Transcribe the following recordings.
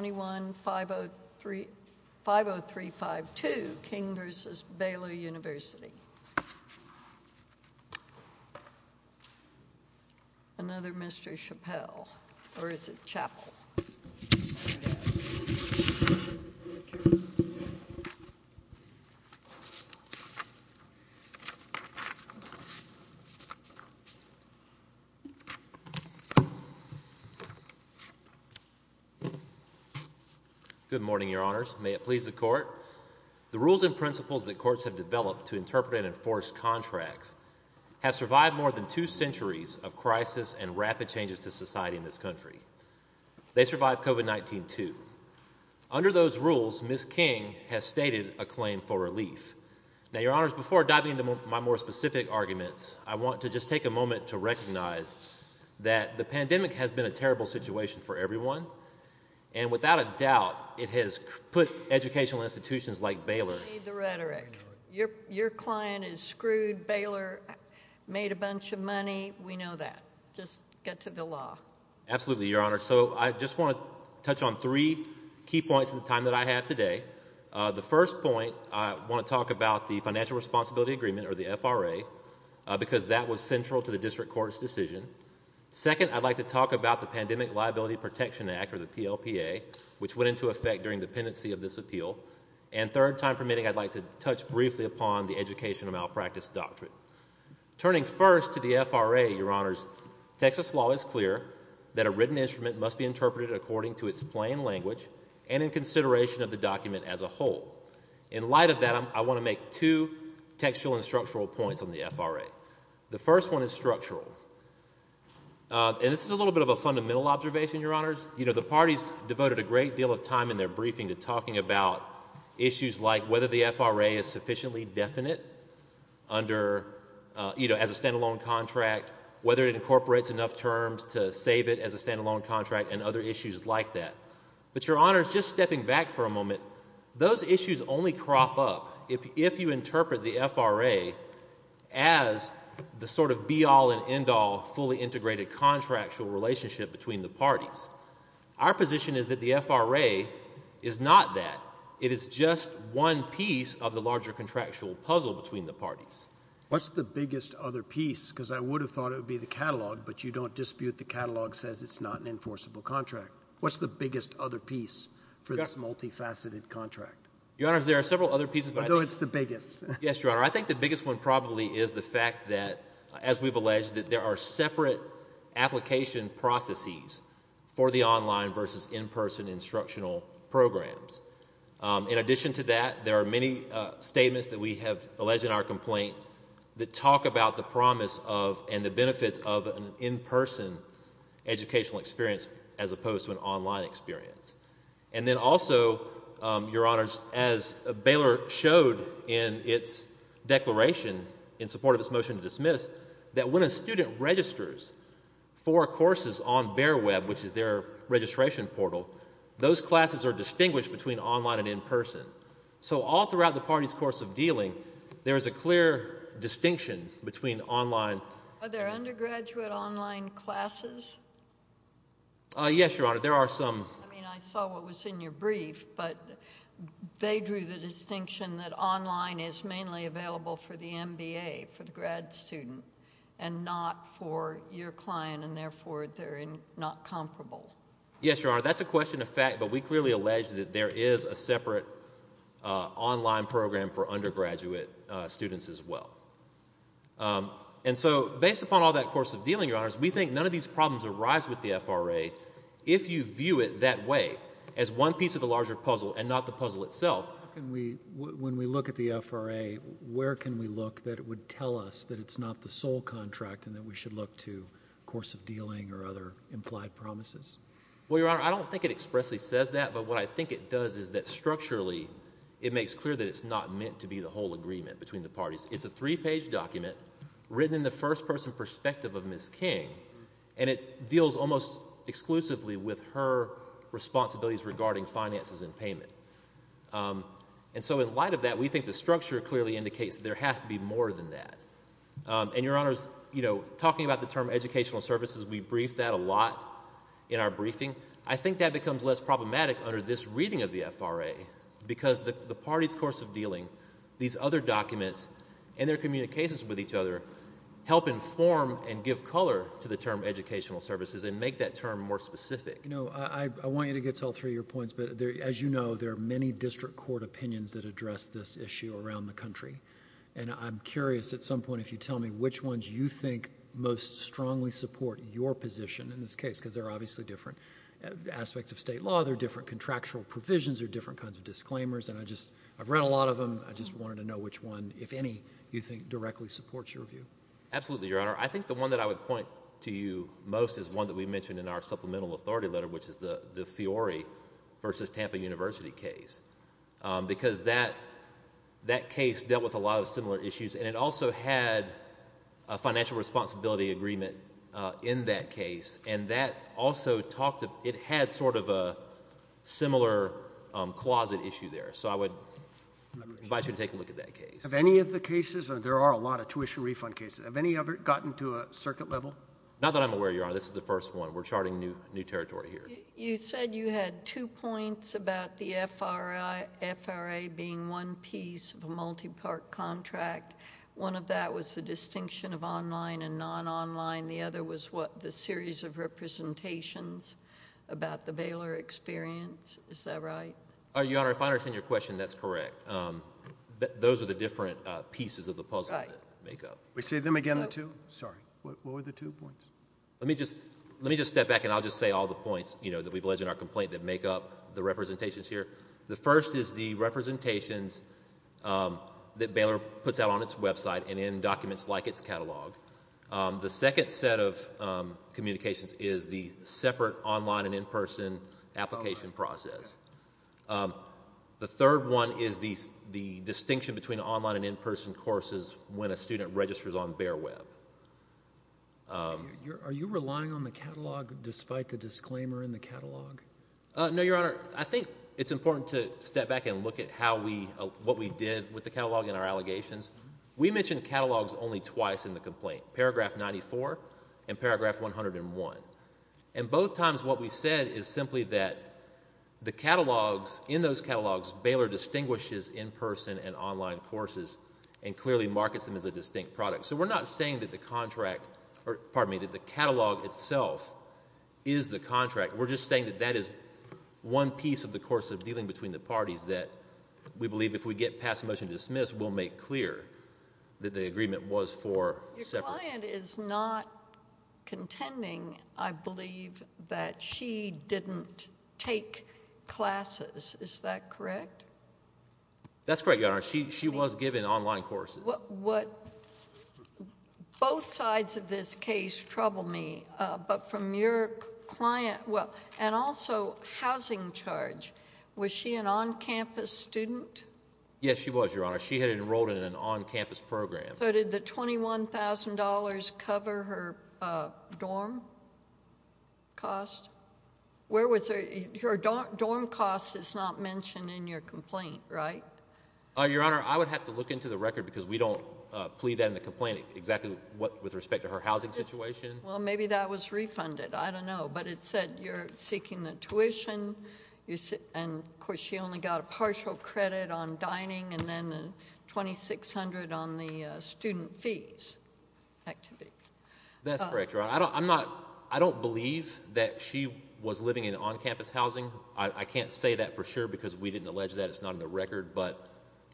21-50352 King v. Baylor University Good morning, Your Honors. May it please the Court. The rules and principles that courts have developed to interpret and enforce contracts have survived more than two centuries of crisis and rapid changes to society in this country. They survived COVID-19 too. Under those rules, Ms. King has stated a claim for relief. Now, Your Honors, before diving into my more specific arguments, I want to just take a moment to recognize that the pandemic has been a terrible situation for everyone. And without a doubt, it has put educational institutions like Baylor in dire straits. Your client is screwed. Baylor made a bunch of money. We know that. Just get to the law. Absolutely, Your Honor. So, I just want to touch on three key points in the time that I have today. The first point, I want to talk about the Financial Responsibility Agreement, or the FRA, because that was central to the District Court's decision. Second, I'd like to talk about the Pandemic Liability Protection Act, or the PLPA, which went into effect during the pendency of this appeal. And third, time permitting, I'd like to touch briefly upon the Education of Malpractice Doctrine. Turning first to the FRA, Your Honors, Texas law is clear that a written instrument must be interpreted according to its plain language and in consideration of the document as a whole. In light of that, I want to make two textual and structural points on the FRA. The first one is structural. And this is a little bit of a fundamental observation, Your Honors. You know, the parties devoted a great deal of time in their briefing to talking about issues like whether the FRA is sufficiently definite under, you know, as a stand-alone contract, whether it incorporates enough terms to save it as a stand-alone contract, and other issues like that. But Your Honors, just stepping back for a moment, those issues only crop up if you interpret the FRA as the sort of be-all and end-all fully integrated contractual relationship between the parties. Our position is that the FRA is not that. It is just one piece of the larger contractual puzzle between the parties. What's the biggest other piece? Because I would have thought it would be the catalog, but you don't dispute the catalog says it's not an enforceable contract. What's the biggest other piece for this multifaceted contract? Your Honors, there are several other pieces. I know it's the biggest. Yes, Your Honor. I think the biggest one probably is the fact that, as we've alleged, that there are separate application processes for the in-person instructional programs. In addition to that, there are many statements that we have alleged in our complaint that talk about the promise of and the benefits of an in-person educational experience as opposed to an online experience. And then also, Your Honors, as Baylor showed in its declaration in support of its motion to dismiss, that when a student registers for courses on BearWeb, which is their registration portal, those classes are distinguished between online and in-person. So all throughout the parties' course of dealing, there is a clear distinction between online. Are there undergraduate online classes? Yes, Your Honor. There are some. I mean, I saw what was in your brief, but they drew the for your client, and therefore they're not comparable. Yes, Your Honor. That's a question of fact, but we clearly allege that there is a separate online program for undergraduate students as well. And so, based upon all that course of dealing, Your Honors, we think none of these problems arise with the FRA if you view it that way, as one piece of the larger puzzle and not the puzzle itself. When we look at the FRA, where can we look that would tell us that it's not the sole contract and that we should look to course of dealing or other implied promises? Well, Your Honor, I don't think it expressly says that, but what I think it does is that structurally, it makes clear that it's not meant to be the whole agreement between the parties. It's a three-page document written in the first-person perspective of Ms. King, and it deals almost exclusively with her responsibilities regarding finances and payment. And so, in light of that, we think the structure clearly indicates there has to be more than that. And Your Honors, you know, talking about the term educational services, we briefed that a lot in our briefing. I think that becomes less problematic under this reading of the FRA, because the party's course of dealing, these other documents, and their communications with each other help inform and give color to the term educational services and make that term more specific. You know, I want you to get to all three of your points, but as you know, there are many district court opinions that address this issue around the country, and I'm curious at some point if you tell me which ones you think most strongly support your position in this case, because they're obviously different aspects of state law, they're different contractual provisions, they're different kinds of disclaimers, and I just, I've read a lot of them, I just wanted to know which one, if any, you think directly supports your view. Absolutely, Your Honor. I think the one that I would point to you most is one that we mentioned in our supplemental authority letter, which is the Fiore v. Tampa University case, because that, that case dealt with a lot of similar issues, and it also had a financial responsibility agreement in that case, and that also talked, it had sort of a similar closet issue there, so I would advise you to take a look at that case. Have any of the cases, there are a lot of tuition refund cases, have any of it gotten to a circuit level? Not that I'm aware, Your Honor, this is the first one. We're charting new, new territory here. You said you had two points about the F.R.A., F.R.A. being one piece of a multi-part contract. One of that was the distinction of online and non-online, the other was what, the series of representations about the Baylor experience, is that right? Your Honor, if I understand your question, that's correct. Those are the different pieces of the puzzle that make up. We see them again, What were the two? Sorry, what were the two points? Let me just, let me just step back and I'll just say all the points, you know, that we've alleged in our complaint that make up the representations here. The first is the representations that Baylor puts out on its website and in documents like its catalog. The second set of communications is the separate online and in-person application process. The third one is the, the distinction between Baylor and BaerWeb. Are you relying on the catalog despite the disclaimer in the catalog? No, your Honor. I think it's important to step back and look at how we, what we did with the catalog and our allegations. We mentioned catalogs only twice in the complaint, paragraph ninety-four and paragraph one hundred and one. And both times what we said is simply that the catalogs, in those catalogs, Baylor distinguishes in-person and online courses and clearly markets them as a distinct product. So we're not saying that the contract, or pardon me, that the catalog itself is the contract. We're just saying that that is one piece of the course of dealing between the parties that we believe if we get passed a motion to dismiss, we'll make clear that the agreement was for separate. Your client is not contending, I believe, that she didn't take classes. Is that correct? That's correct, your Honor. She, she was given online courses. What, what, both sides of this case trouble me, but from your client, well, and also housing charge, was she an on-campus student? Yes, she was, your Honor. She had enrolled in an on-campus program. So did the twenty-one thousand dollars cover her dorm cost? Where was her, her dorm cost is not mentioned in your complaint, right? Your Honor, I would have to look into the record because we don't plead that in the complaint exactly what, with respect to her housing situation. Well, maybe that was refunded. I don't know, but it said you're seeking the tuition, you see, and of course she only got a partial credit on dining and then twenty-six hundred on the student fees activity. That's correct, your Honor. I don't, I'm not, I don't believe that she was living in on-campus housing. I, I can't say that for sure because we didn't allege that. It's not in the record, but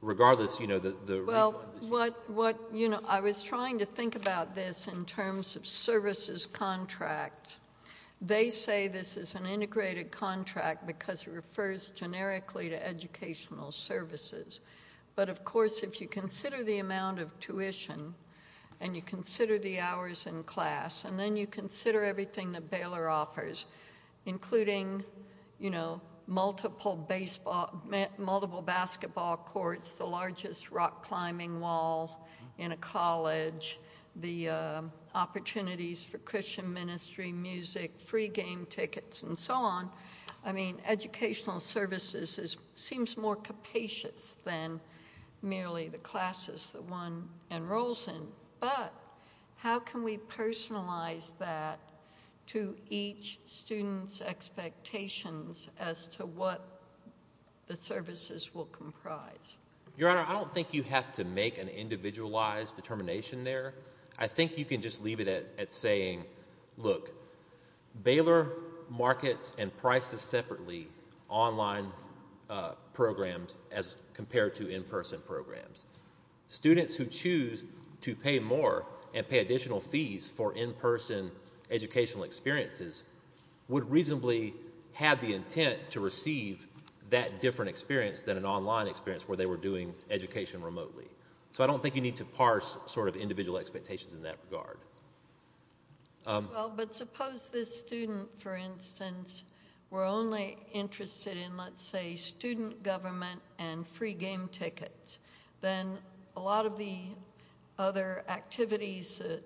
regardless, you know, the, the refunds. Well, what, what, you know, I was trying to think about this in terms of services contract. They say this is an integrated contract because it refers generically to educational services, but of course if you consider the amount of tuition and you consider the hours in class and then you consider everything that Baylor offers, including, you know, multiple baseball, multiple basketball courts, the largest rock climbing wall in a college, the opportunities for Christian ministry, music, free game tickets, and so on. I mean, educational services is, seems more capacious than merely the classes that one enrolls in, but how can we personalize that to each student's expectations as to what the services will comprise? Your Honor, I don't think you have to make an individualized determination there. I think you can just leave it at, at saying, look, Baylor markets and prices separately online programs as compared to in-person programs. Students who choose to pay more and pay additional fees for in-person educational experiences would reasonably have the intent to receive that different experience than an online experience where they were doing education remotely. So I don't think you need to parse sort of individual expectations in that regard. Well, but suppose this student, for instance, were only interested in, let's say, student government and free game tickets. Then a lot of the other activities, a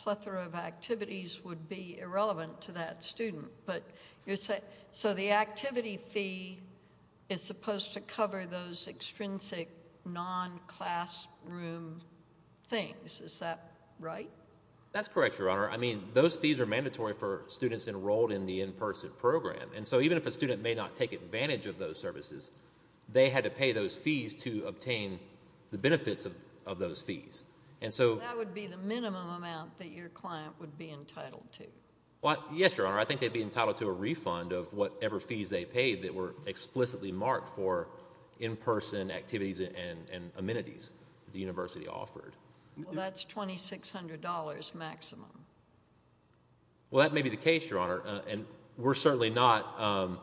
plethora of activities, would be irrelevant to that student, but you're saying, so the activity fee is supposed to cover those extrinsic non-class room things. Is that right? That's correct, Your Honor. I mean, those fees are mandatory for students enrolled in the in-person program, and so even if a student may not take advantage of those services, they had to pay those fees to obtain the benefits of, of those fees. And so That would be the minimum amount that your client would be entitled to. Well, yes, Your Honor. I think they'd be entitled to a refund of whatever fees they paid that were explicitly marked for in-person activities and, and amenities the university offered. Well, that's $2,600 maximum. Well, that may be the case, Your Honor, and we're certainly not,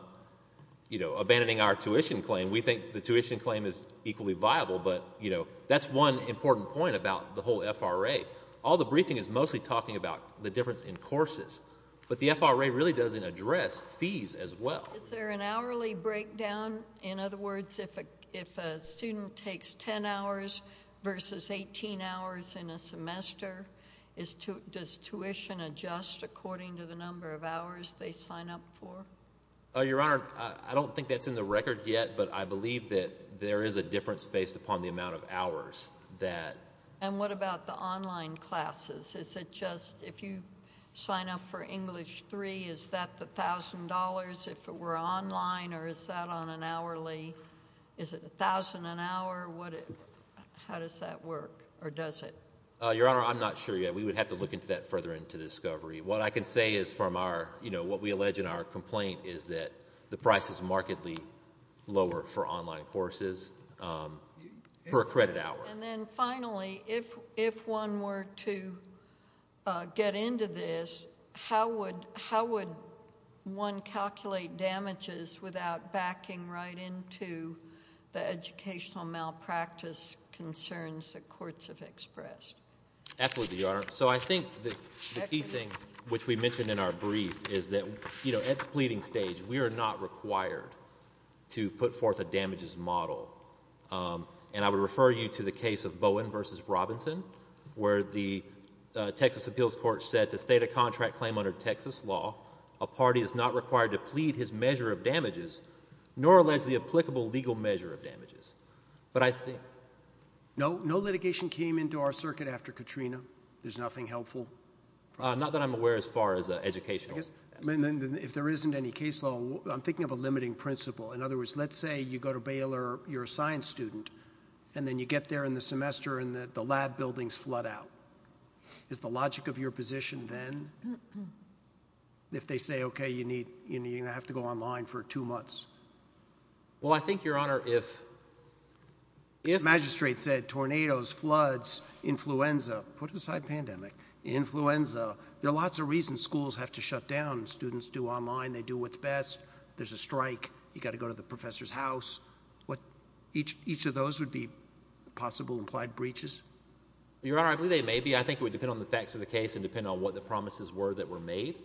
you know, abandoning our tuition claim. We think the tuition claim is equally viable, but, you know, that's one important point about the whole FRA. All the briefing is mostly talking about the difference in courses, but the FRA really doesn't address fees as well. Is there an hourly breakdown? In other words, if a, if a student takes 10 hours versus 18 hours in a semester, is, does tuition adjust according to the number of hours they sign up for? Oh, Your Honor, I don't think that's in the record yet, but I believe that there is a difference based upon the amount of hours that... And what about the online classes? Is it just, if you sign up for English 3, is that the $1,000 if it were online, or is that on an hourly, is it $1,000 an hour? What, how does that work, or does it? Oh, Your Honor, I'm not sure yet. We would have to look into that further into discovery. What I can say is from our, you know, what we allege in our complaint is that the price is markedly lower for online courses, um, per credit hour. And then finally, if, if one were to, uh, get into this, how would, how would one calculate damages without backing right into the educational malpractice concerns that courts have expressed? Absolutely, Your Honor. So I think that the key thing which we mentioned in our brief is that, you know, at the pleading stage, we are not required to put forth a damages model. Um, and I would refer you to the case of Bowen versus Robinson, where the, uh, Texas Appeals Court said to state a contract claim under Texas law, a party is not required to plead his measure of damages, nor allege the applicable legal measure of damages. But I think... No, no litigation came into our circuit after Katrina. There's nothing helpful? Uh, not that I'm aware as far as, uh, educational. I guess, I mean, then if there isn't any case law, I'm thinking of a limiting principle. In other words, let's say you go to Baylor, you're a science student, and then you get there in the semester, and the, the lab buildings flood out. Is the logic of your position then, if they say, okay, you need, you know, you're going to have to go online for two months? Well, I think, Your Honor, if, if... Magistrate said, tornadoes, floods, influenza. Put aside pandemic. Influenza. There are lots of reasons schools have to shut down. Students do online. They do what's best. There's a strike. You've got to go to the professor's house. What, each, each of those would be possible implied breaches? Your Honor, I believe they may be. I think it would depend on the facts of the case and depend on what the promises were that were made.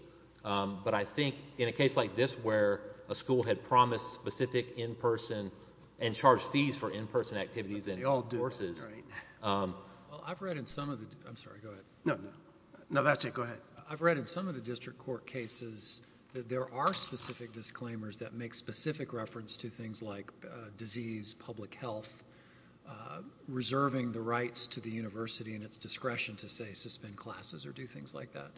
Um, but I think in a case like this where a school had promised specific in-person and charged fees for in-person activities in all courses... They all do, right. Um... Well, I've read in some of the, I'm sorry, go ahead. No, no. No, that's it. Go ahead. I've read in some of the district court cases that there are specific disclaimers that make specific reference to things like, uh, disease, public health, uh, reserving the rights to the university and its discretion to say suspend classes or do things like that.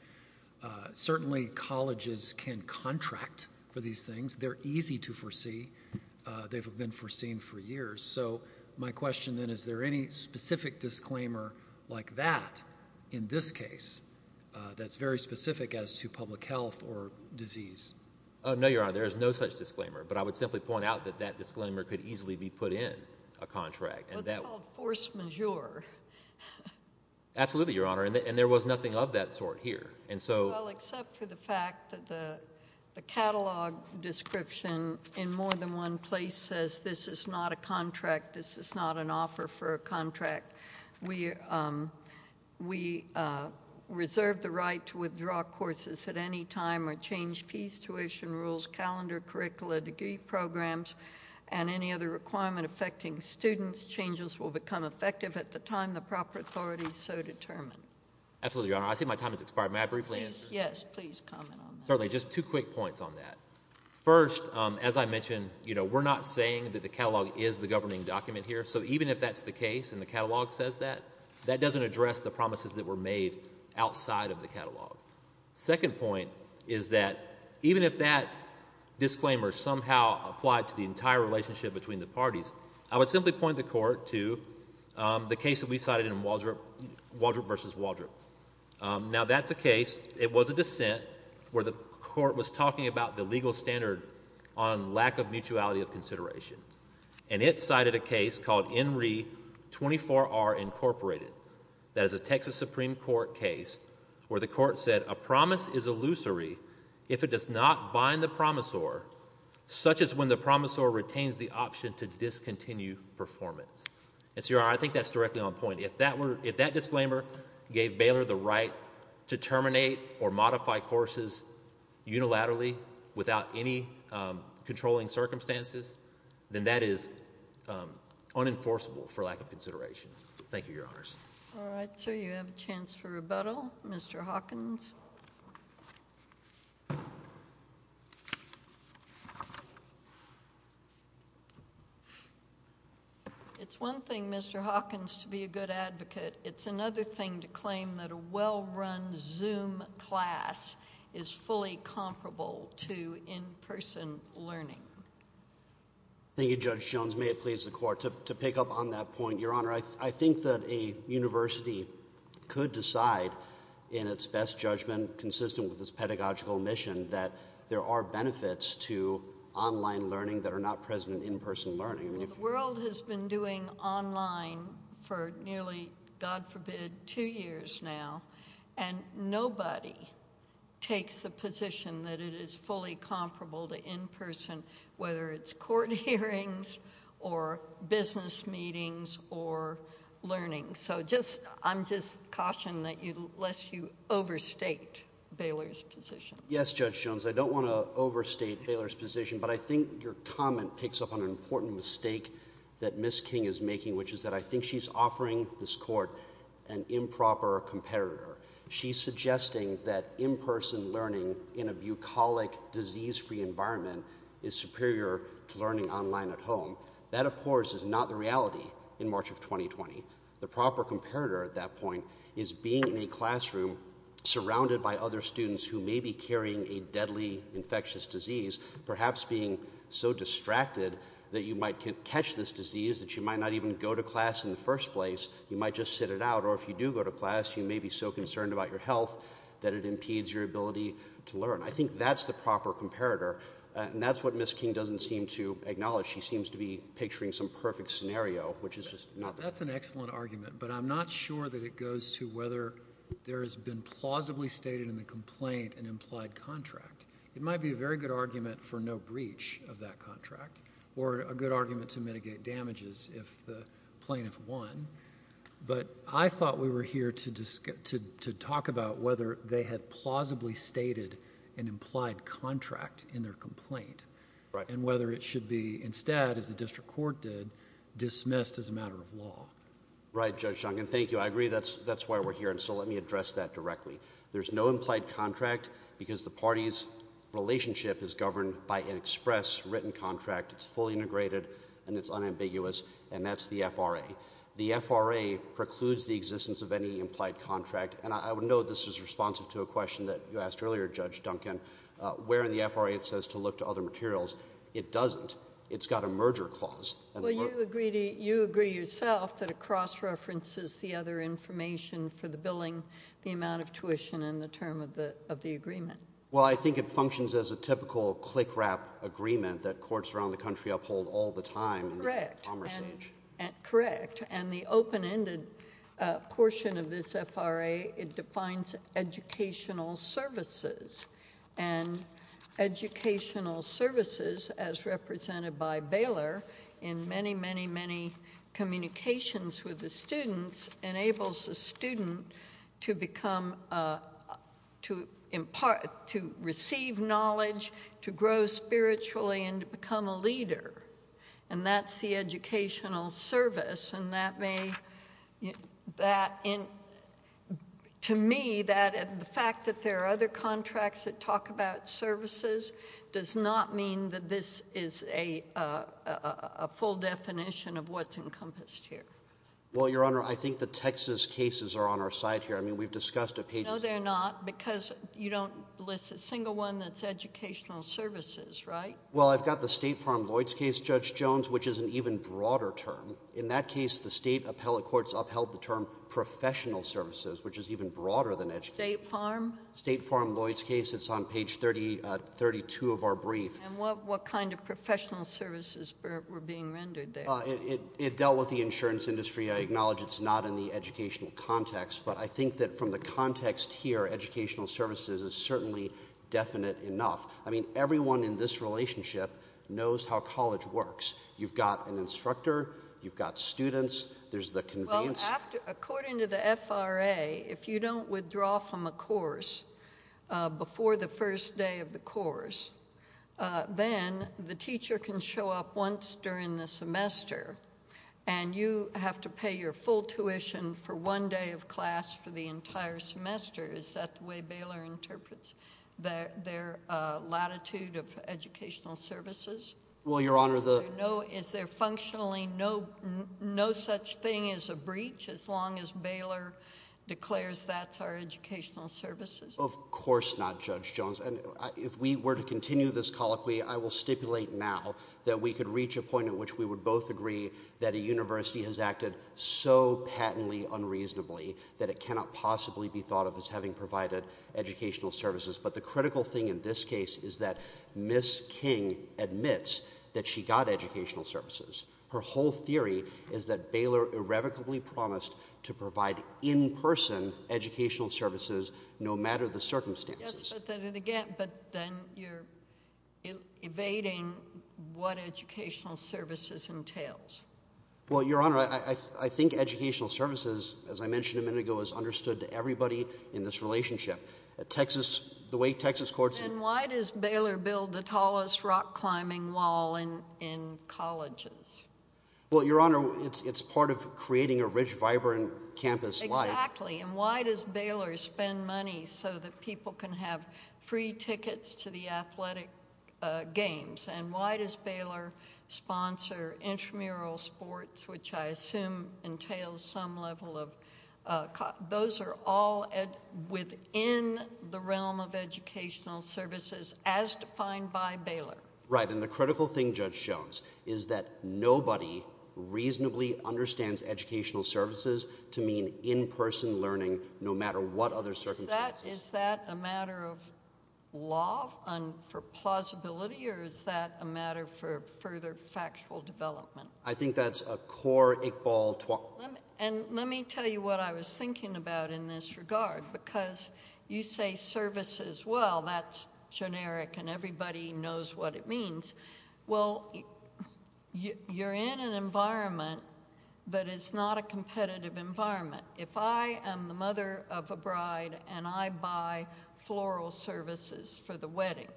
Uh, certainly colleges can contract for these things. They're easy to foresee. Uh, they've been foreseen for years. So my question then, is there any specific disclaimer like that in this case, uh, that's very specific as to public health or disease? Oh, no, Your Honor. There is no such disclaimer. But I would simply point out that that disclaimer could easily be put in a contract. And that... Well, it's called force majeure. Absolutely, Your Honor. And there was nothing of that sort here. And so... Well, except for the fact that the catalog description in more than one place says this is not a contract. This is not an offer for a contract. We, um, we, uh, reserve the right to withdraw courses at any time or change fees, tuition rules, calendar, curricula, degree programs, and any other requirement affecting students. Changes will become effective at the time the proper authorities so determine. Absolutely, Your Honor. I see my time has expired. May I briefly answer? Yes, please comment on that. Certainly. Just two quick points on that. First, um, as I mentioned, you know, we're not saying that the catalog is the governing document here. So even if that's the case and the catalog says that, that doesn't address the promises that were made outside of the catalog. Second point is that even if that disclaimer somehow applied to the entire relationship between the parties, I would simply point the court to, um, the case that we cited in Waldrop versus Waldrop. Um, now that's a case, it was a dissent where the court was talking about the legal standard on lack of mutuality of consideration. And it cited a case called Enree 24R Incorporated. That is a Texas Supreme Court case where the court said a promise is illusory if it does not bind the promisor such as when the promisor retains the option to discontinue performance. And so, Your Honor, I think that's directly on point. If that were, if that disclaimer gave Baylor the right to terminate or modify courses unilaterally without any, um, controlling circumstances, then that is, um, unenforceable for lack of consideration. Thank you, Your Honors. All right. So you have a chance for rebuttal, Mr. Hawkins. It's one thing, Mr. Hawkins, to be a good advocate. It's another thing to claim that a well-run Zoom class is fully comparable to in-person learning. Thank you, Judge Jones. May it please the Court. To pick up on that point, Your Honor, I think that a university could decide in its best judgment consistent with its pedagogical mission that there are benefits to online learning that are not present in in-person learning. The world has been doing online for nearly, God forbid, two years now, and nobody takes the position that it is fully comparable to in-person, whether it's court hearings or business meetings or learning. So just, I'm just caution that you, lest you overstate Baylor's position. Yes, Judge Jones. I don't want to overstate Baylor's position, but I think your comment picks up on an important mistake that Ms. King is making, which is that I think she's offering this Court an improper competitor. She's suggesting that in-person learning in a bucolic, disease-free environment is superior to learning online at home. That, of course, is not the reality in March of 2020. The proper competitor at that point is being in a classroom surrounded by other students who may be carrying a deadly infectious disease, perhaps being so distracted that you might catch this disease that you might not even go to class in the first place. You might just sit it out, or if you do go to class, you may be so concerned about your health that it impedes your ability to learn. I think that's the proper comparator, and that's what Ms. King doesn't seem to acknowledge. She seems to be picturing some perfect scenario, which is just not the case. That's an excellent argument, but I'm not sure that it goes to whether there has been argument for no breach of that contract, or a good argument to mitigate damages if the plaintiff won. But I thought we were here to talk about whether they had plausibly stated an implied contract in their complaint, and whether it should be instead, as the District Court did, dismissed as a matter of law. Right, Judge Shunkin. Thank you. I agree that's why we're here, and so let me address that express written contract. It's fully integrated, and it's unambiguous, and that's the FRA. The FRA precludes the existence of any implied contract, and I would note this is responsive to a question that you asked earlier, Judge Duncan, where in the FRA it says to look to other materials. It doesn't. It's got a merger clause. Well, you agree yourself that it cross-references the other information for the billing, the amount of tuition, and the term of the agreement. Well, I think it functions as a typical click-wrap agreement that courts around the country uphold all the time in the commerce age. Correct. And the open-ended portion of this FRA, it defines educational services, and educational services, as represented by Baylor, in many, many, many communications with the to receive knowledge, to grow spiritually, and to become a leader, and that's the educational service, and that may, that in, to me, that, and the fact that there are other contracts that talk about services does not mean that this is a, a full definition of what's encompassed here. Well, Your Honor, I think the Texas cases are on our side here. I mean, we've discussed a page... No, they're not, because you don't list a single one that's educational services, right? Well, I've got the State Farm Lloyds case, Judge Jones, which is an even broader term. In that case, the state appellate courts upheld the term professional services, which is even broader than educational... State Farm? State Farm Lloyds case. It's on page 30, uh, 32 of our brief. And what, what kind of professional services were, were being rendered there? Uh, it, it dealt with the insurance industry. I acknowledge it's not in the educational context, but I think that from the context here, educational services is certainly definite enough. I mean, everyone in this relationship knows how college works. You've got an instructor, you've got students, there's the convenience... Well, after, according to the FRA, if you don't withdraw from a course, uh, before the first day of the course, uh, then the teacher can show up once during the semester, and you have to pay your full tuition for one day of class for the entire semester. Is that the way Baylor interprets their, their, uh, latitude of educational services? Well, Your Honor, the... Is there no, is there functionally no, no such thing as a breach as long as Baylor declares that's our educational services? Of course not, Judge Jones. And I, if we were to continue this colloquy, I will stipulate now that we could reach a point at which we would both agree that a university has acted so patently unreasonably that it cannot possibly be thought of as having provided educational services. But the critical thing in this case is that Ms. King admits that she got educational services. Her whole theory is that Baylor irrevocably promised to provide in-person educational services no matter the circumstances. Yes, but then again, but then you're evading what educational services entails. Well, Your Honor, I, I think educational services, as I mentioned a minute ago, is understood to everybody in this relationship. Texas, the way Texas courts... Then why does Baylor build the tallest rock climbing wall in, in colleges? Well, Your Honor, it's, it's part of creating a rich, vibrant campus life. Exactly. And why does Baylor spend money so that people can have free tickets to the athletic games? And why does Baylor sponsor intramural sports, which I assume entails some level of, those are all within the realm of educational services as defined by Baylor. Right. And the critical thing, Judge Jones, is that nobody reasonably understands educational services to mean in-person learning no matter what other circumstances. Is that, is that a matter of law and for plausibility or is that a matter for further factual development? I think that's a core equal... And let me tell you what I was thinking about in this regard because you say services, well, that's generic and everybody knows what it means. Well, you're in an environment that is not a competitive environment. If I am the mother of a bride and I buy floral services for the wedding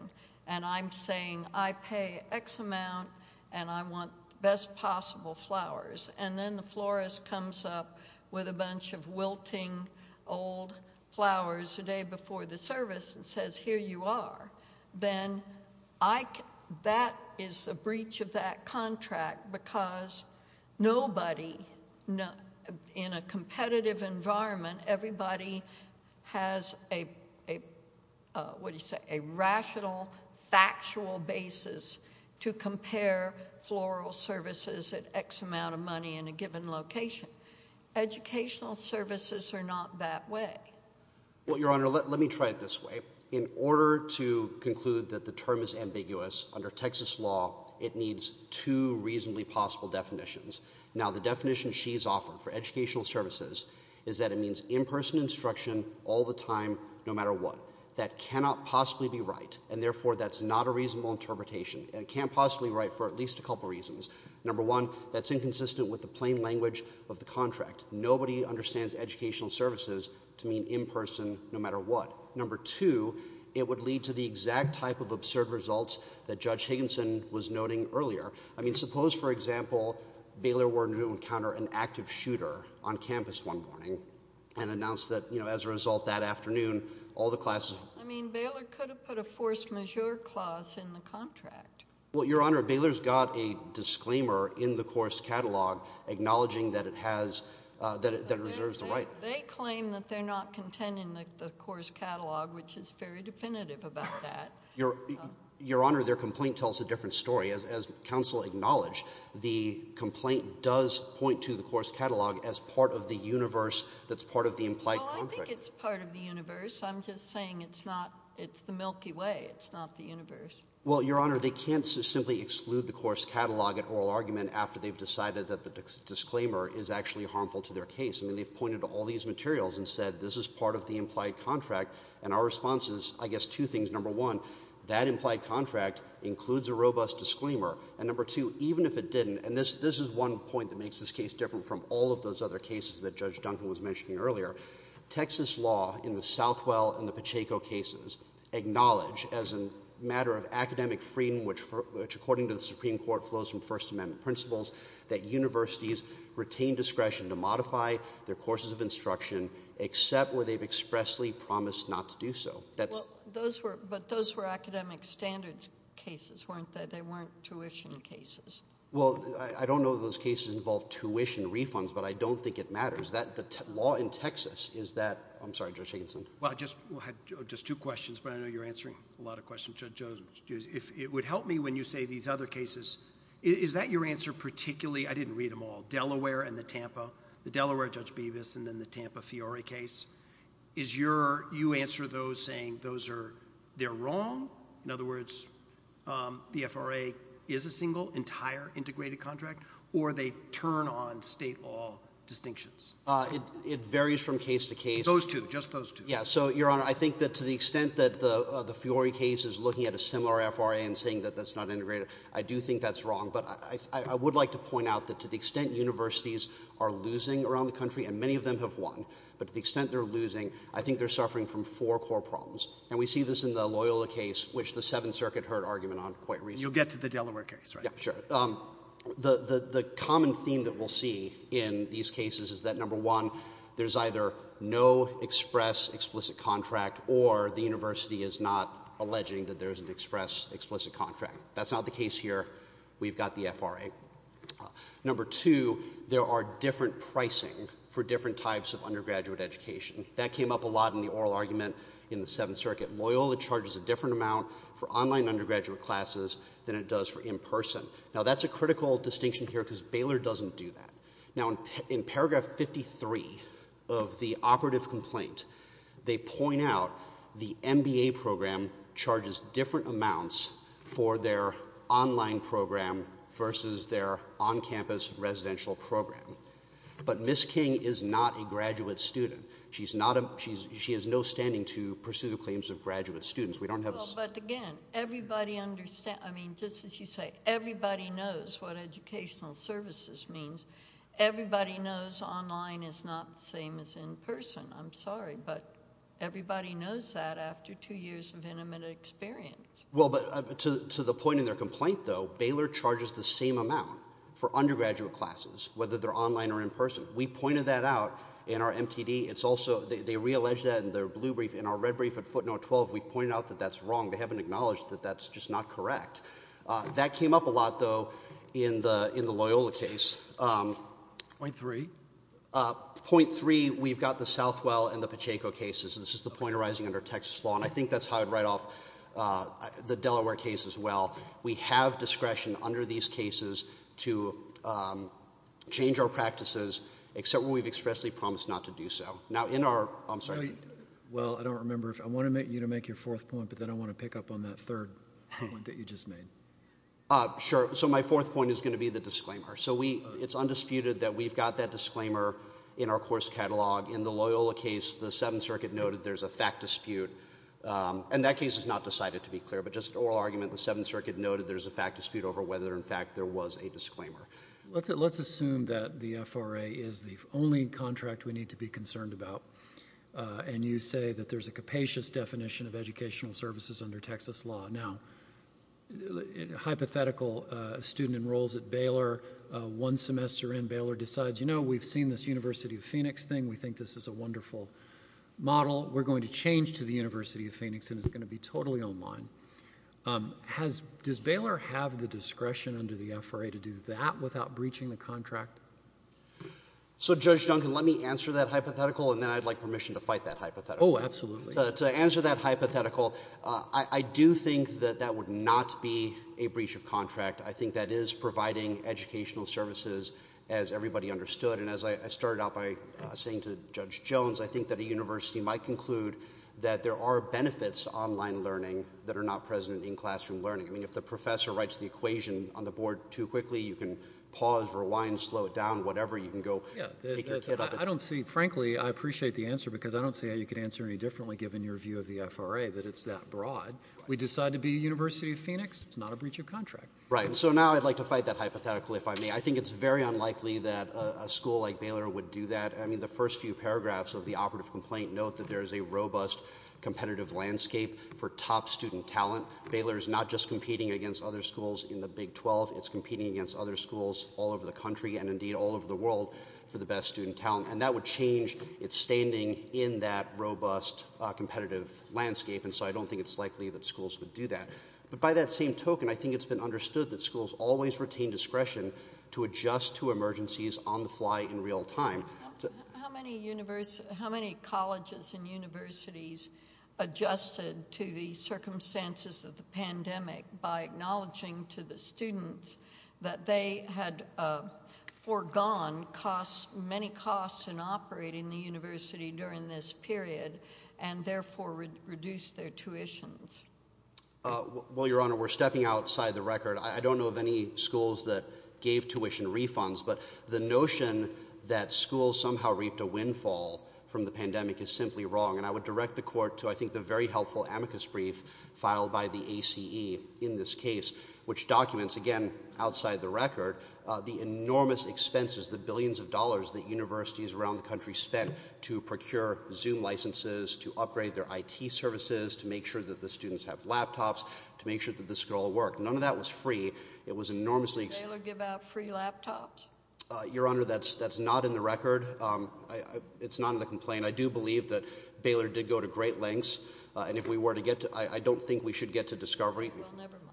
and I'm saying I pay X amount and I want best possible flowers and then the florist comes up with a bunch of wilting old flowers the day before the service and says, here you are, then I, that is a breach of that contract because nobody, in a competitive environment, everybody has a, what do you say, a rational, factual basis to compare floral services at X amount of services or not that way? Well, Your Honor, let, let me try it this way. In order to conclude that the term is ambiguous, under Texas law, it needs two reasonably possible definitions. Now, the definition she's offered for educational services is that it means in-person instruction all the time no matter what. That cannot possibly be right and therefore that's not a reasonable interpretation and it can't possibly be right for at least a couple reasons. Number one, that's inconsistent with the plain language of the contract. Nobody understands educational services to mean in-person no matter what. Number two, it would lead to the exact type of absurd results that Judge Higginson was noting earlier. I mean, suppose, for example, Baylor were to encounter an active shooter on campus one morning and announced that, you know, as a result that afternoon, all the classes... I mean, Baylor could have put a force majeure clause in the contract. Well, Your Honor, Baylor's got a disclaimer in the course catalog acknowledging that it has, that it reserves the right. They claim that they're not content in the course catalog, which is very definitive about that. Your Honor, their complaint tells a different story. As counsel acknowledged, the complaint does point to the course catalog as part of the universe that's part of the implied contract. Well, I think it's part of the universe. I'm just saying it's not, it's the Milky Way. It's not the universe. Well, Your Honor, they can't simply exclude the course catalog at oral argument after they've decided that the disclaimer is actually harmful to their case. I mean, they've pointed to all these materials and said this is part of the implied contract, and our response is, I guess, two things. Number one, that implied contract includes a robust disclaimer. And number two, even if it didn't, and this is one point that makes this case different from all of those other cases that Judge Duncan was mentioning earlier, Texas law in the Southwell and the Pacheco cases acknowledge as a matter of academic freedom, which according to the Supreme Court flows from First Amendment principles, that universities retain discretion to modify their courses of instruction except where they've expressly promised not to do so. But those were academic standards cases, weren't they? They weren't tuition cases. Well, I don't know those cases involve tuition refunds, but I don't think it matters. The law in Texas is that, I'm sorry, Judge Higginson. Well, I just had just two questions, but I know you're answering a lot of questions. It would help me when you say these other cases, is that your answer particularly, I didn't read them all, Delaware and the Tampa, the Delaware Judge Bevis and then the Tampa Fiore case, is your, you answer those saying those are, they're wrong, in other words, the FRA is a single entire integrated contract, or they turn on state law distinctions? It varies from case to case. Those two, just those two. Yeah, so, Your Honor, I think that to the extent that the Fiore case is looking at a similar FRA and saying that that's not integrated, I do think that's wrong. But I would like to point out that to the extent universities are losing around the country, and many of them have won, but to the extent they're losing, I think they're suffering from four core problems. And we see this in the Loyola case, which the Seventh Circuit heard argument on quite recently. You'll get to the Delaware case, right? Yeah, sure. The common theme that we'll see in these cases is that, number one, there's either no express explicit contract or the university is not alleging that there's an express explicit contract. That's not the case here. We've got the FRA. Number two, there are different pricing for different types of undergraduate education. That came up a lot in the oral argument in the Seventh Circuit. Loyola charges a different amount for online undergraduate classes than it does for in-person. Now, that's a critical distinction here because Baylor doesn't do that. Now, in paragraph 53 of the operative complaint, they point out the MBA program charges different amounts for their online program versus their on-campus residential program. But Ms. King is not a graduate student. She has no standing to pursue the claims of graduate students. We don't have a... Well, but again, everybody understands... Everybody knows online is not the same as in-person. I'm sorry, but everybody knows that after two years of intimate experience. Well, but to the point in their complaint, though, Baylor charges the same amount for undergraduate classes, whether they're online or in-person. We pointed that out in our MTD. It's also... They reallege that in their blue brief. In our red brief at footnote 12, we pointed out that that's wrong. They haven't acknowledged that that's just not correct. That came up a lot, though, in the Loyola case. Point three? Point three, we've got the Southwell and the Pacheco cases. This is the point arising under Texas law, and I think that's how I'd write off the Delaware case as well. We have discretion under these cases to change our practices, except where we've expressly promised not to do so. Now, in our... I'm sorry. Well, I don't remember. I want you to make your fourth point, but then I want to pick up on that third point that you just made. Sure. So, my fourth point is going to be the disclaimer. So, it's undisputed that we've got that disclaimer in our course catalog. In the Loyola case, the Seventh Circuit noted there's a fact dispute, and that case is not decided, to be clear. But just an oral argument, the Seventh Circuit noted there's a fact dispute over whether, in fact, there was a disclaimer. Let's assume that the FRA is the only contract we need to be concerned about, and you say that there's a capacious definition of educational services under Texas law. Now, a hypothetical student enrolls at Baylor. One semester in, Baylor decides, you know, we've seen this University of Phoenix thing. We think this is a wonderful model. We're going to change to the University of Phoenix, and it's going to be totally online. Does Baylor have the discretion under the FRA to do that without breaching the contract? So, Judge Duncan, let me answer that hypothetical, and then I'd like permission to fight that hypothetical. Oh, absolutely. To answer that hypothetical, I do think that that would not be a breach of contract. I think that is providing educational services, as everybody understood. And as I started out by saying to Judge Jones, I think that a university might conclude that there are benefits to online learning that are not present in classroom learning. I mean, if the professor writes the equation on the board too quickly, you can pause, rewind, slow it down, whatever. You can go pick your kid up. I don't see, frankly, I appreciate the answer, because I don't see how you could answer any differently, given your view of the FRA, that it's that broad. We decide to be University of Phoenix. It's not a breach of contract. Right. So now I'd like to fight that hypothetical, if I may. I think it's very unlikely that a school like Baylor would do that. I mean, the first few paragraphs of the operative complaint note that there is a robust competitive landscape for top student talent. Baylor is not just competing against other schools in the Big 12. It's competing against other schools all over the country, and indeed all over the world, for the best student talent. And that would change its standing in that robust competitive landscape. And so I don't think it's likely that schools would do that. But by that same token, I think it's been understood that schools always retain discretion to adjust to emergencies on the fly in real time. How many colleges and universities adjusted to the circumstances of the pandemic by acknowledging to the students that they had foregone many costs in operating the university during this period and therefore reduced their tuitions? Well, Your Honor, we're stepping outside the record. I don't know of any schools that gave tuition refunds. But the notion that schools somehow reaped a windfall from the pandemic is simply wrong. And I would direct the court to, I think, the very helpful amicus brief filed by the which documents, again, outside the record, the enormous expenses, the billions of dollars that universities around the country spent to procure Zoom licenses, to upgrade their IT services, to make sure that the students have laptops, to make sure that the school worked. None of that was free. It was enormously— Did Baylor give out free laptops? Your Honor, that's not in the record. It's not in the complaint. I do believe that Baylor did go to great lengths. And if we were to get to—I don't think we should get to discovery. Well, never mind.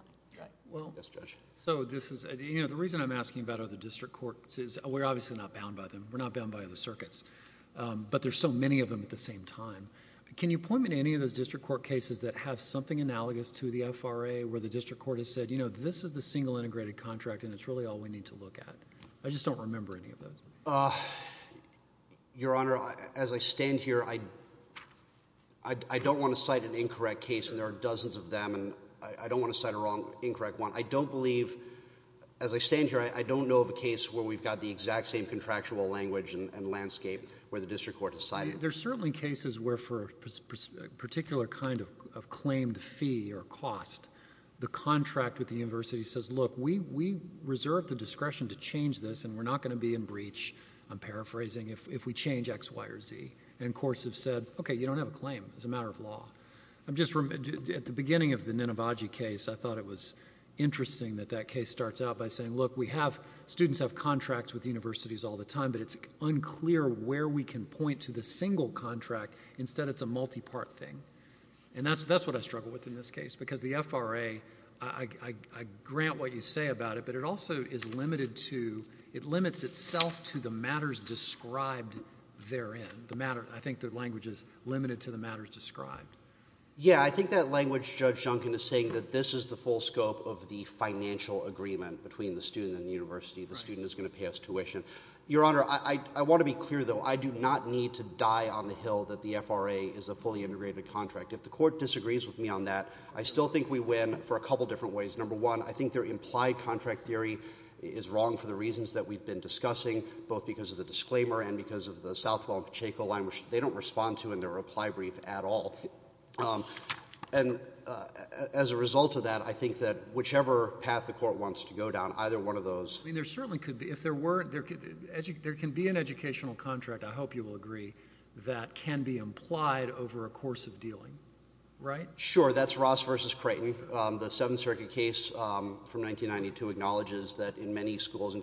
Yes, Judge. So this is—you know, the reason I'm asking about other district courts is we're obviously not bound by them. We're not bound by other circuits. But there's so many of them at the same time. Can you point me to any of those district court cases that have something analogous to the FRA where the district court has said, you know, this is the single integrated contract, and it's really all we need to look at? I just don't remember any of those. Your Honor, as I stand here, I don't want to cite an incorrect case, and there are dozens of them. And I don't want to cite an incorrect one. I don't believe—as I stand here, I don't know of a case where we've got the exact same contractual language and landscape where the district court has cited. There are certainly cases where for a particular kind of claimed fee or cost, the contract with the university says, look, we reserve the discretion to change this, and we're not going to be in breach, I'm paraphrasing, if we change X, Y, or Z. And courts have said, okay, you don't have a claim. It's a matter of law. At the beginning of the Ninavaji case, I thought it was interesting that that case starts out by saying, look, we have—students have contracts with universities all the time, but it's unclear where we can point to the single contract. Instead, it's a multi-part thing. And that's what I struggle with in this case because the FRA, I grant what you say about it, but it also is limited to—it limits itself to the matters described therein. I think the language is limited to the matters described. Yeah, I think that language, Judge Duncan is saying, that this is the full scope of the financial agreement between the student and the university. The student is going to pay us tuition. Your Honor, I want to be clear, though. I do not need to die on the Hill that the FRA is a fully integrated contract. If the court disagrees with me on that, I still think we win for a couple different ways. Number one, I think their implied contract theory is wrong for the reasons that we've been discussing, both because of the disclaimer and because of the Southwell and Pacheco line, which they don't respond to in their reply brief at all. And as a result of that, I think that whichever path the court wants to go down, either one of those— I mean, there certainly could be—if there were—there can be an educational contract, I hope you will agree, that can be implied over a course of dealing, right? Sure. That's Ross v. Creighton. The Seventh Circuit case from 1992 acknowledges that in many schools—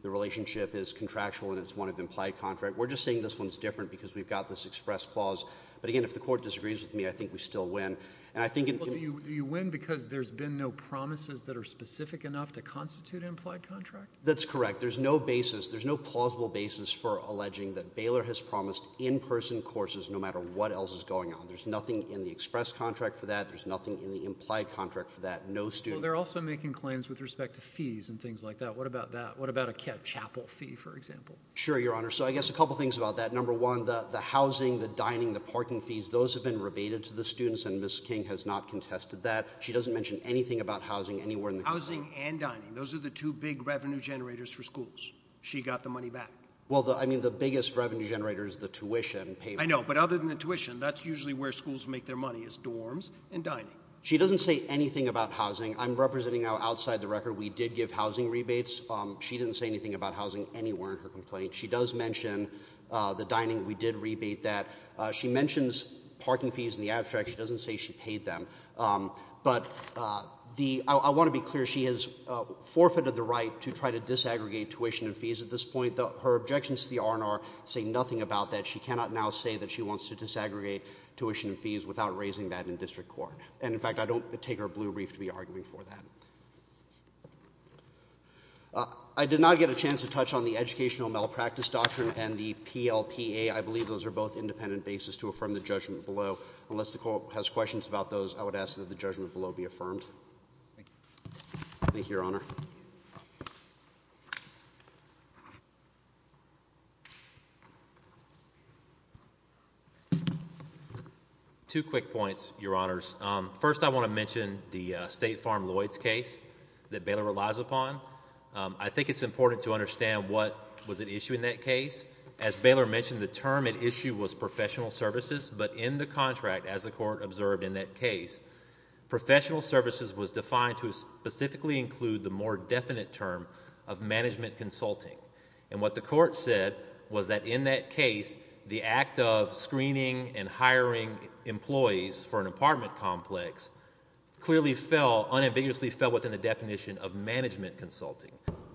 the relationship is contractual and it's one of implied contract. We're just saying this one's different because we've got this express clause. But again, if the court disagrees with me, I think we still win. And I think— Well, do you win because there's been no promises that are specific enough to constitute implied contract? That's correct. There's no basis—there's no plausible basis for alleging that Baylor has promised in-person courses no matter what else is going on. There's nothing in the express contract for that. There's nothing in the implied contract for that. No student— Well, they're also making claims with respect to fees and things like that. What about that? What about a chapel fee, for example? Sure, Your Honor. So I guess a couple things about that. Number one, the housing, the dining, the parking fees, those have been rebated to the students, and Ms. King has not contested that. She doesn't mention anything about housing anywhere in the contract. Housing and dining. Those are the two big revenue generators for schools. She got the money back. Well, I mean, the biggest revenue generator is the tuition payment. I know. But other than the tuition, that's usually where schools make their money, is dorms and dining. She doesn't say anything about housing. I'm representing outside the record. We did give housing rebates. She didn't say anything about housing anywhere in her complaint. She does mention the dining. We did rebate that. She mentions parking fees in the abstract. She doesn't say she paid them. But I want to be clear. She has forfeited the right to try to disaggregate tuition and fees at this point. Her objections to the R&R say nothing about that. She cannot now say that she wants to disaggregate tuition and fees without raising that in district court. And, in fact, I don't take her blue brief to be arguing for that. I did not get a chance to touch on the educational malpractice doctrine and the PLPA. I believe those are both independent bases to affirm the judgment below. Unless the Court has questions about those, I would ask that the judgment below be affirmed. Thank you, Your Honor. Two quick points, Your Honors. First, I want to mention the State Farm Lloyds case that Baylor relies upon. I think it's important to understand what was at issue in that case. As Baylor mentioned, the term at issue was professional services. But in the contract, as the Court observed in that case, professional services was defined to specifically include the more definite term of management consulting. And what the Court said was that in that case, the act of screening and hiring employees for an apartment complex clearly fell, unambiguously fell within the definition of management consulting,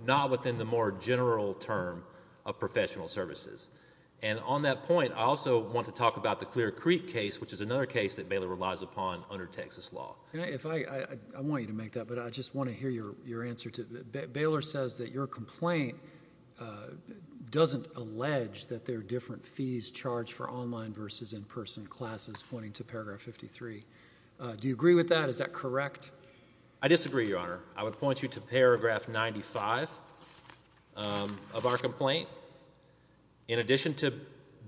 not within the more general term of professional services. And on that point, I also want to talk about the Clear Creek case, which is another case that Baylor relies upon under Texas law. I want you to make that, but I just want to hear your answer. Baylor says that your complaint doesn't allege that there are different fees charged for online versus in-person classes, pointing to paragraph 53. Do you agree with that? Is that correct? I disagree, Your Honor. I would point you to paragraph 95 of our complaint. In addition to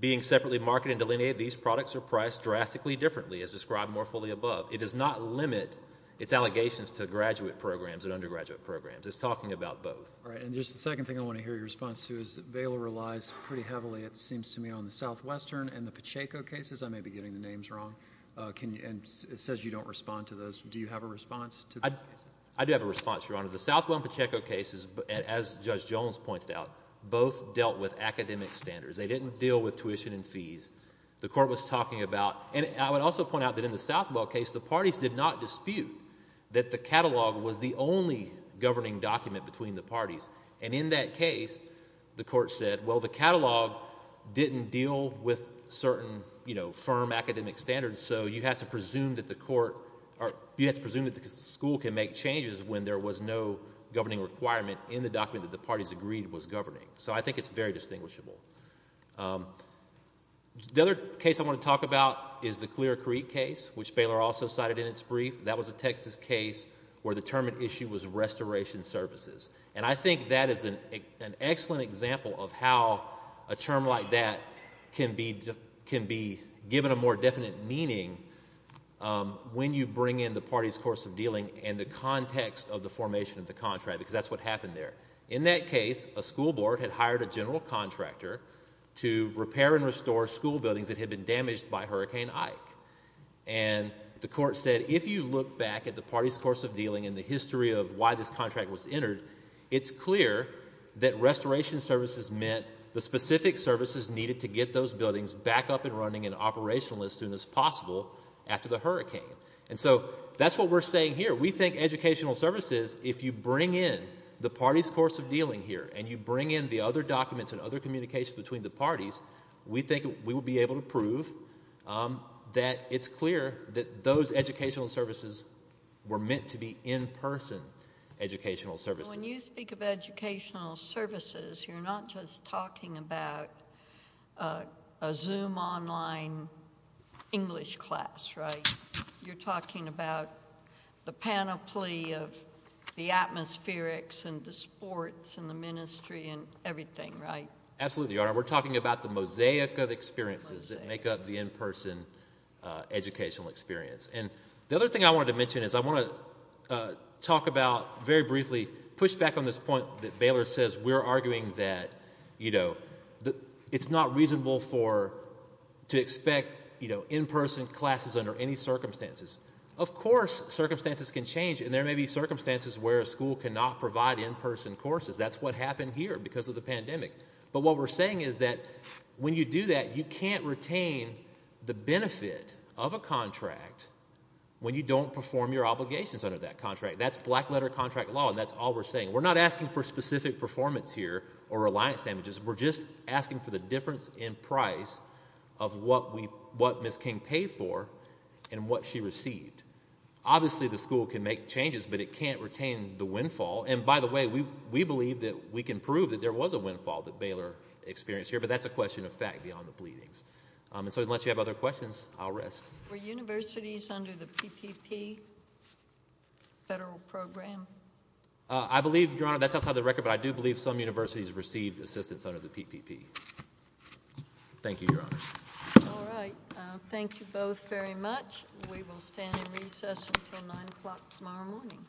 being separately marketed and delineated, these products are priced drastically differently, as described more fully above. It does not limit its allegations to graduate programs and undergraduate programs. It's talking about both. All right. And just the second thing I want to hear your response to is that Baylor relies pretty heavily, it seems to me, on the Southwestern and the Pacheco cases. I may be getting the names wrong. And it says you don't respond to those. Do you have a response to those cases? I do have a response, Your Honor. The Southwell and Pacheco cases, as Judge Jones pointed out, both dealt with academic standards. They didn't deal with tuition and fees. The court was talking about, and I would also point out that in the Southwell case, the parties did not dispute that the catalog was the only governing document between the parties. And in that case, the court said, well, the catalog didn't deal with certain firm academic standards, so you have to presume that the school can make changes when there was no governing requirement in the document that the parties agreed was governing. So I think it's very distinguishable. The other case I want to talk about is the Clear Creek case, which Baylor also cited in its brief. That was a Texas case where the term at issue was restoration services. And I think that is an excellent example of how a term like that can be given a more definite meaning when you bring in the parties' course of dealing and the context of the formation of the contract, because that's what happened there. In that case, a school board had hired a general contractor to repair and restore school buildings that had been damaged by Hurricane Ike. And the court said if you look back at the parties' course of dealing and the history of why this contract was entered, it's clear that restoration services meant the specific services needed to get those buildings back up and running and operational as soon as possible after the hurricane. And so that's what we're saying here. We think educational services, if you bring in the parties' course of dealing here and you bring in the other documents and other communications between the parties, we think we will be able to prove that it's clear that those educational services were meant to be in-person educational services. When you speak of educational services, you're not just talking about a Zoom online English class, right? You're talking about the panoply of the atmospherics and the sports and the ministry and everything, right? Absolutely, Your Honor. We're talking about the mosaic of experiences that make up the in-person educational experience. And the other thing I wanted to mention is I want to talk about very briefly, push back on this point that Baylor says we're arguing that, you know, it's not reasonable to expect in-person classes under any circumstances. Of course, circumstances can change, and there may be circumstances where a school cannot provide in-person courses. That's what happened here because of the pandemic. But what we're saying is that when you do that, you can't retain the benefit of a contract when you don't perform your obligations under that contract. That's black-letter contract law, and that's all we're saying. We're not asking for specific performance here or reliance damages. We're just asking for the difference in price of what Ms. King paid for and what she received. Obviously, the school can make changes, but it can't retain the windfall. And by the way, we believe that we can prove that there was a windfall that Baylor experienced here, but that's a question of fact beyond the bleedings. And so unless you have other questions, I'll rest. Were universities under the PPP federal program? I believe, Your Honor, that's outside the record, but I do believe some universities received assistance under the PPP. Thank you, Your Honor. All right. Thank you both very much. We will stand in recess until 9 o'clock tomorrow morning.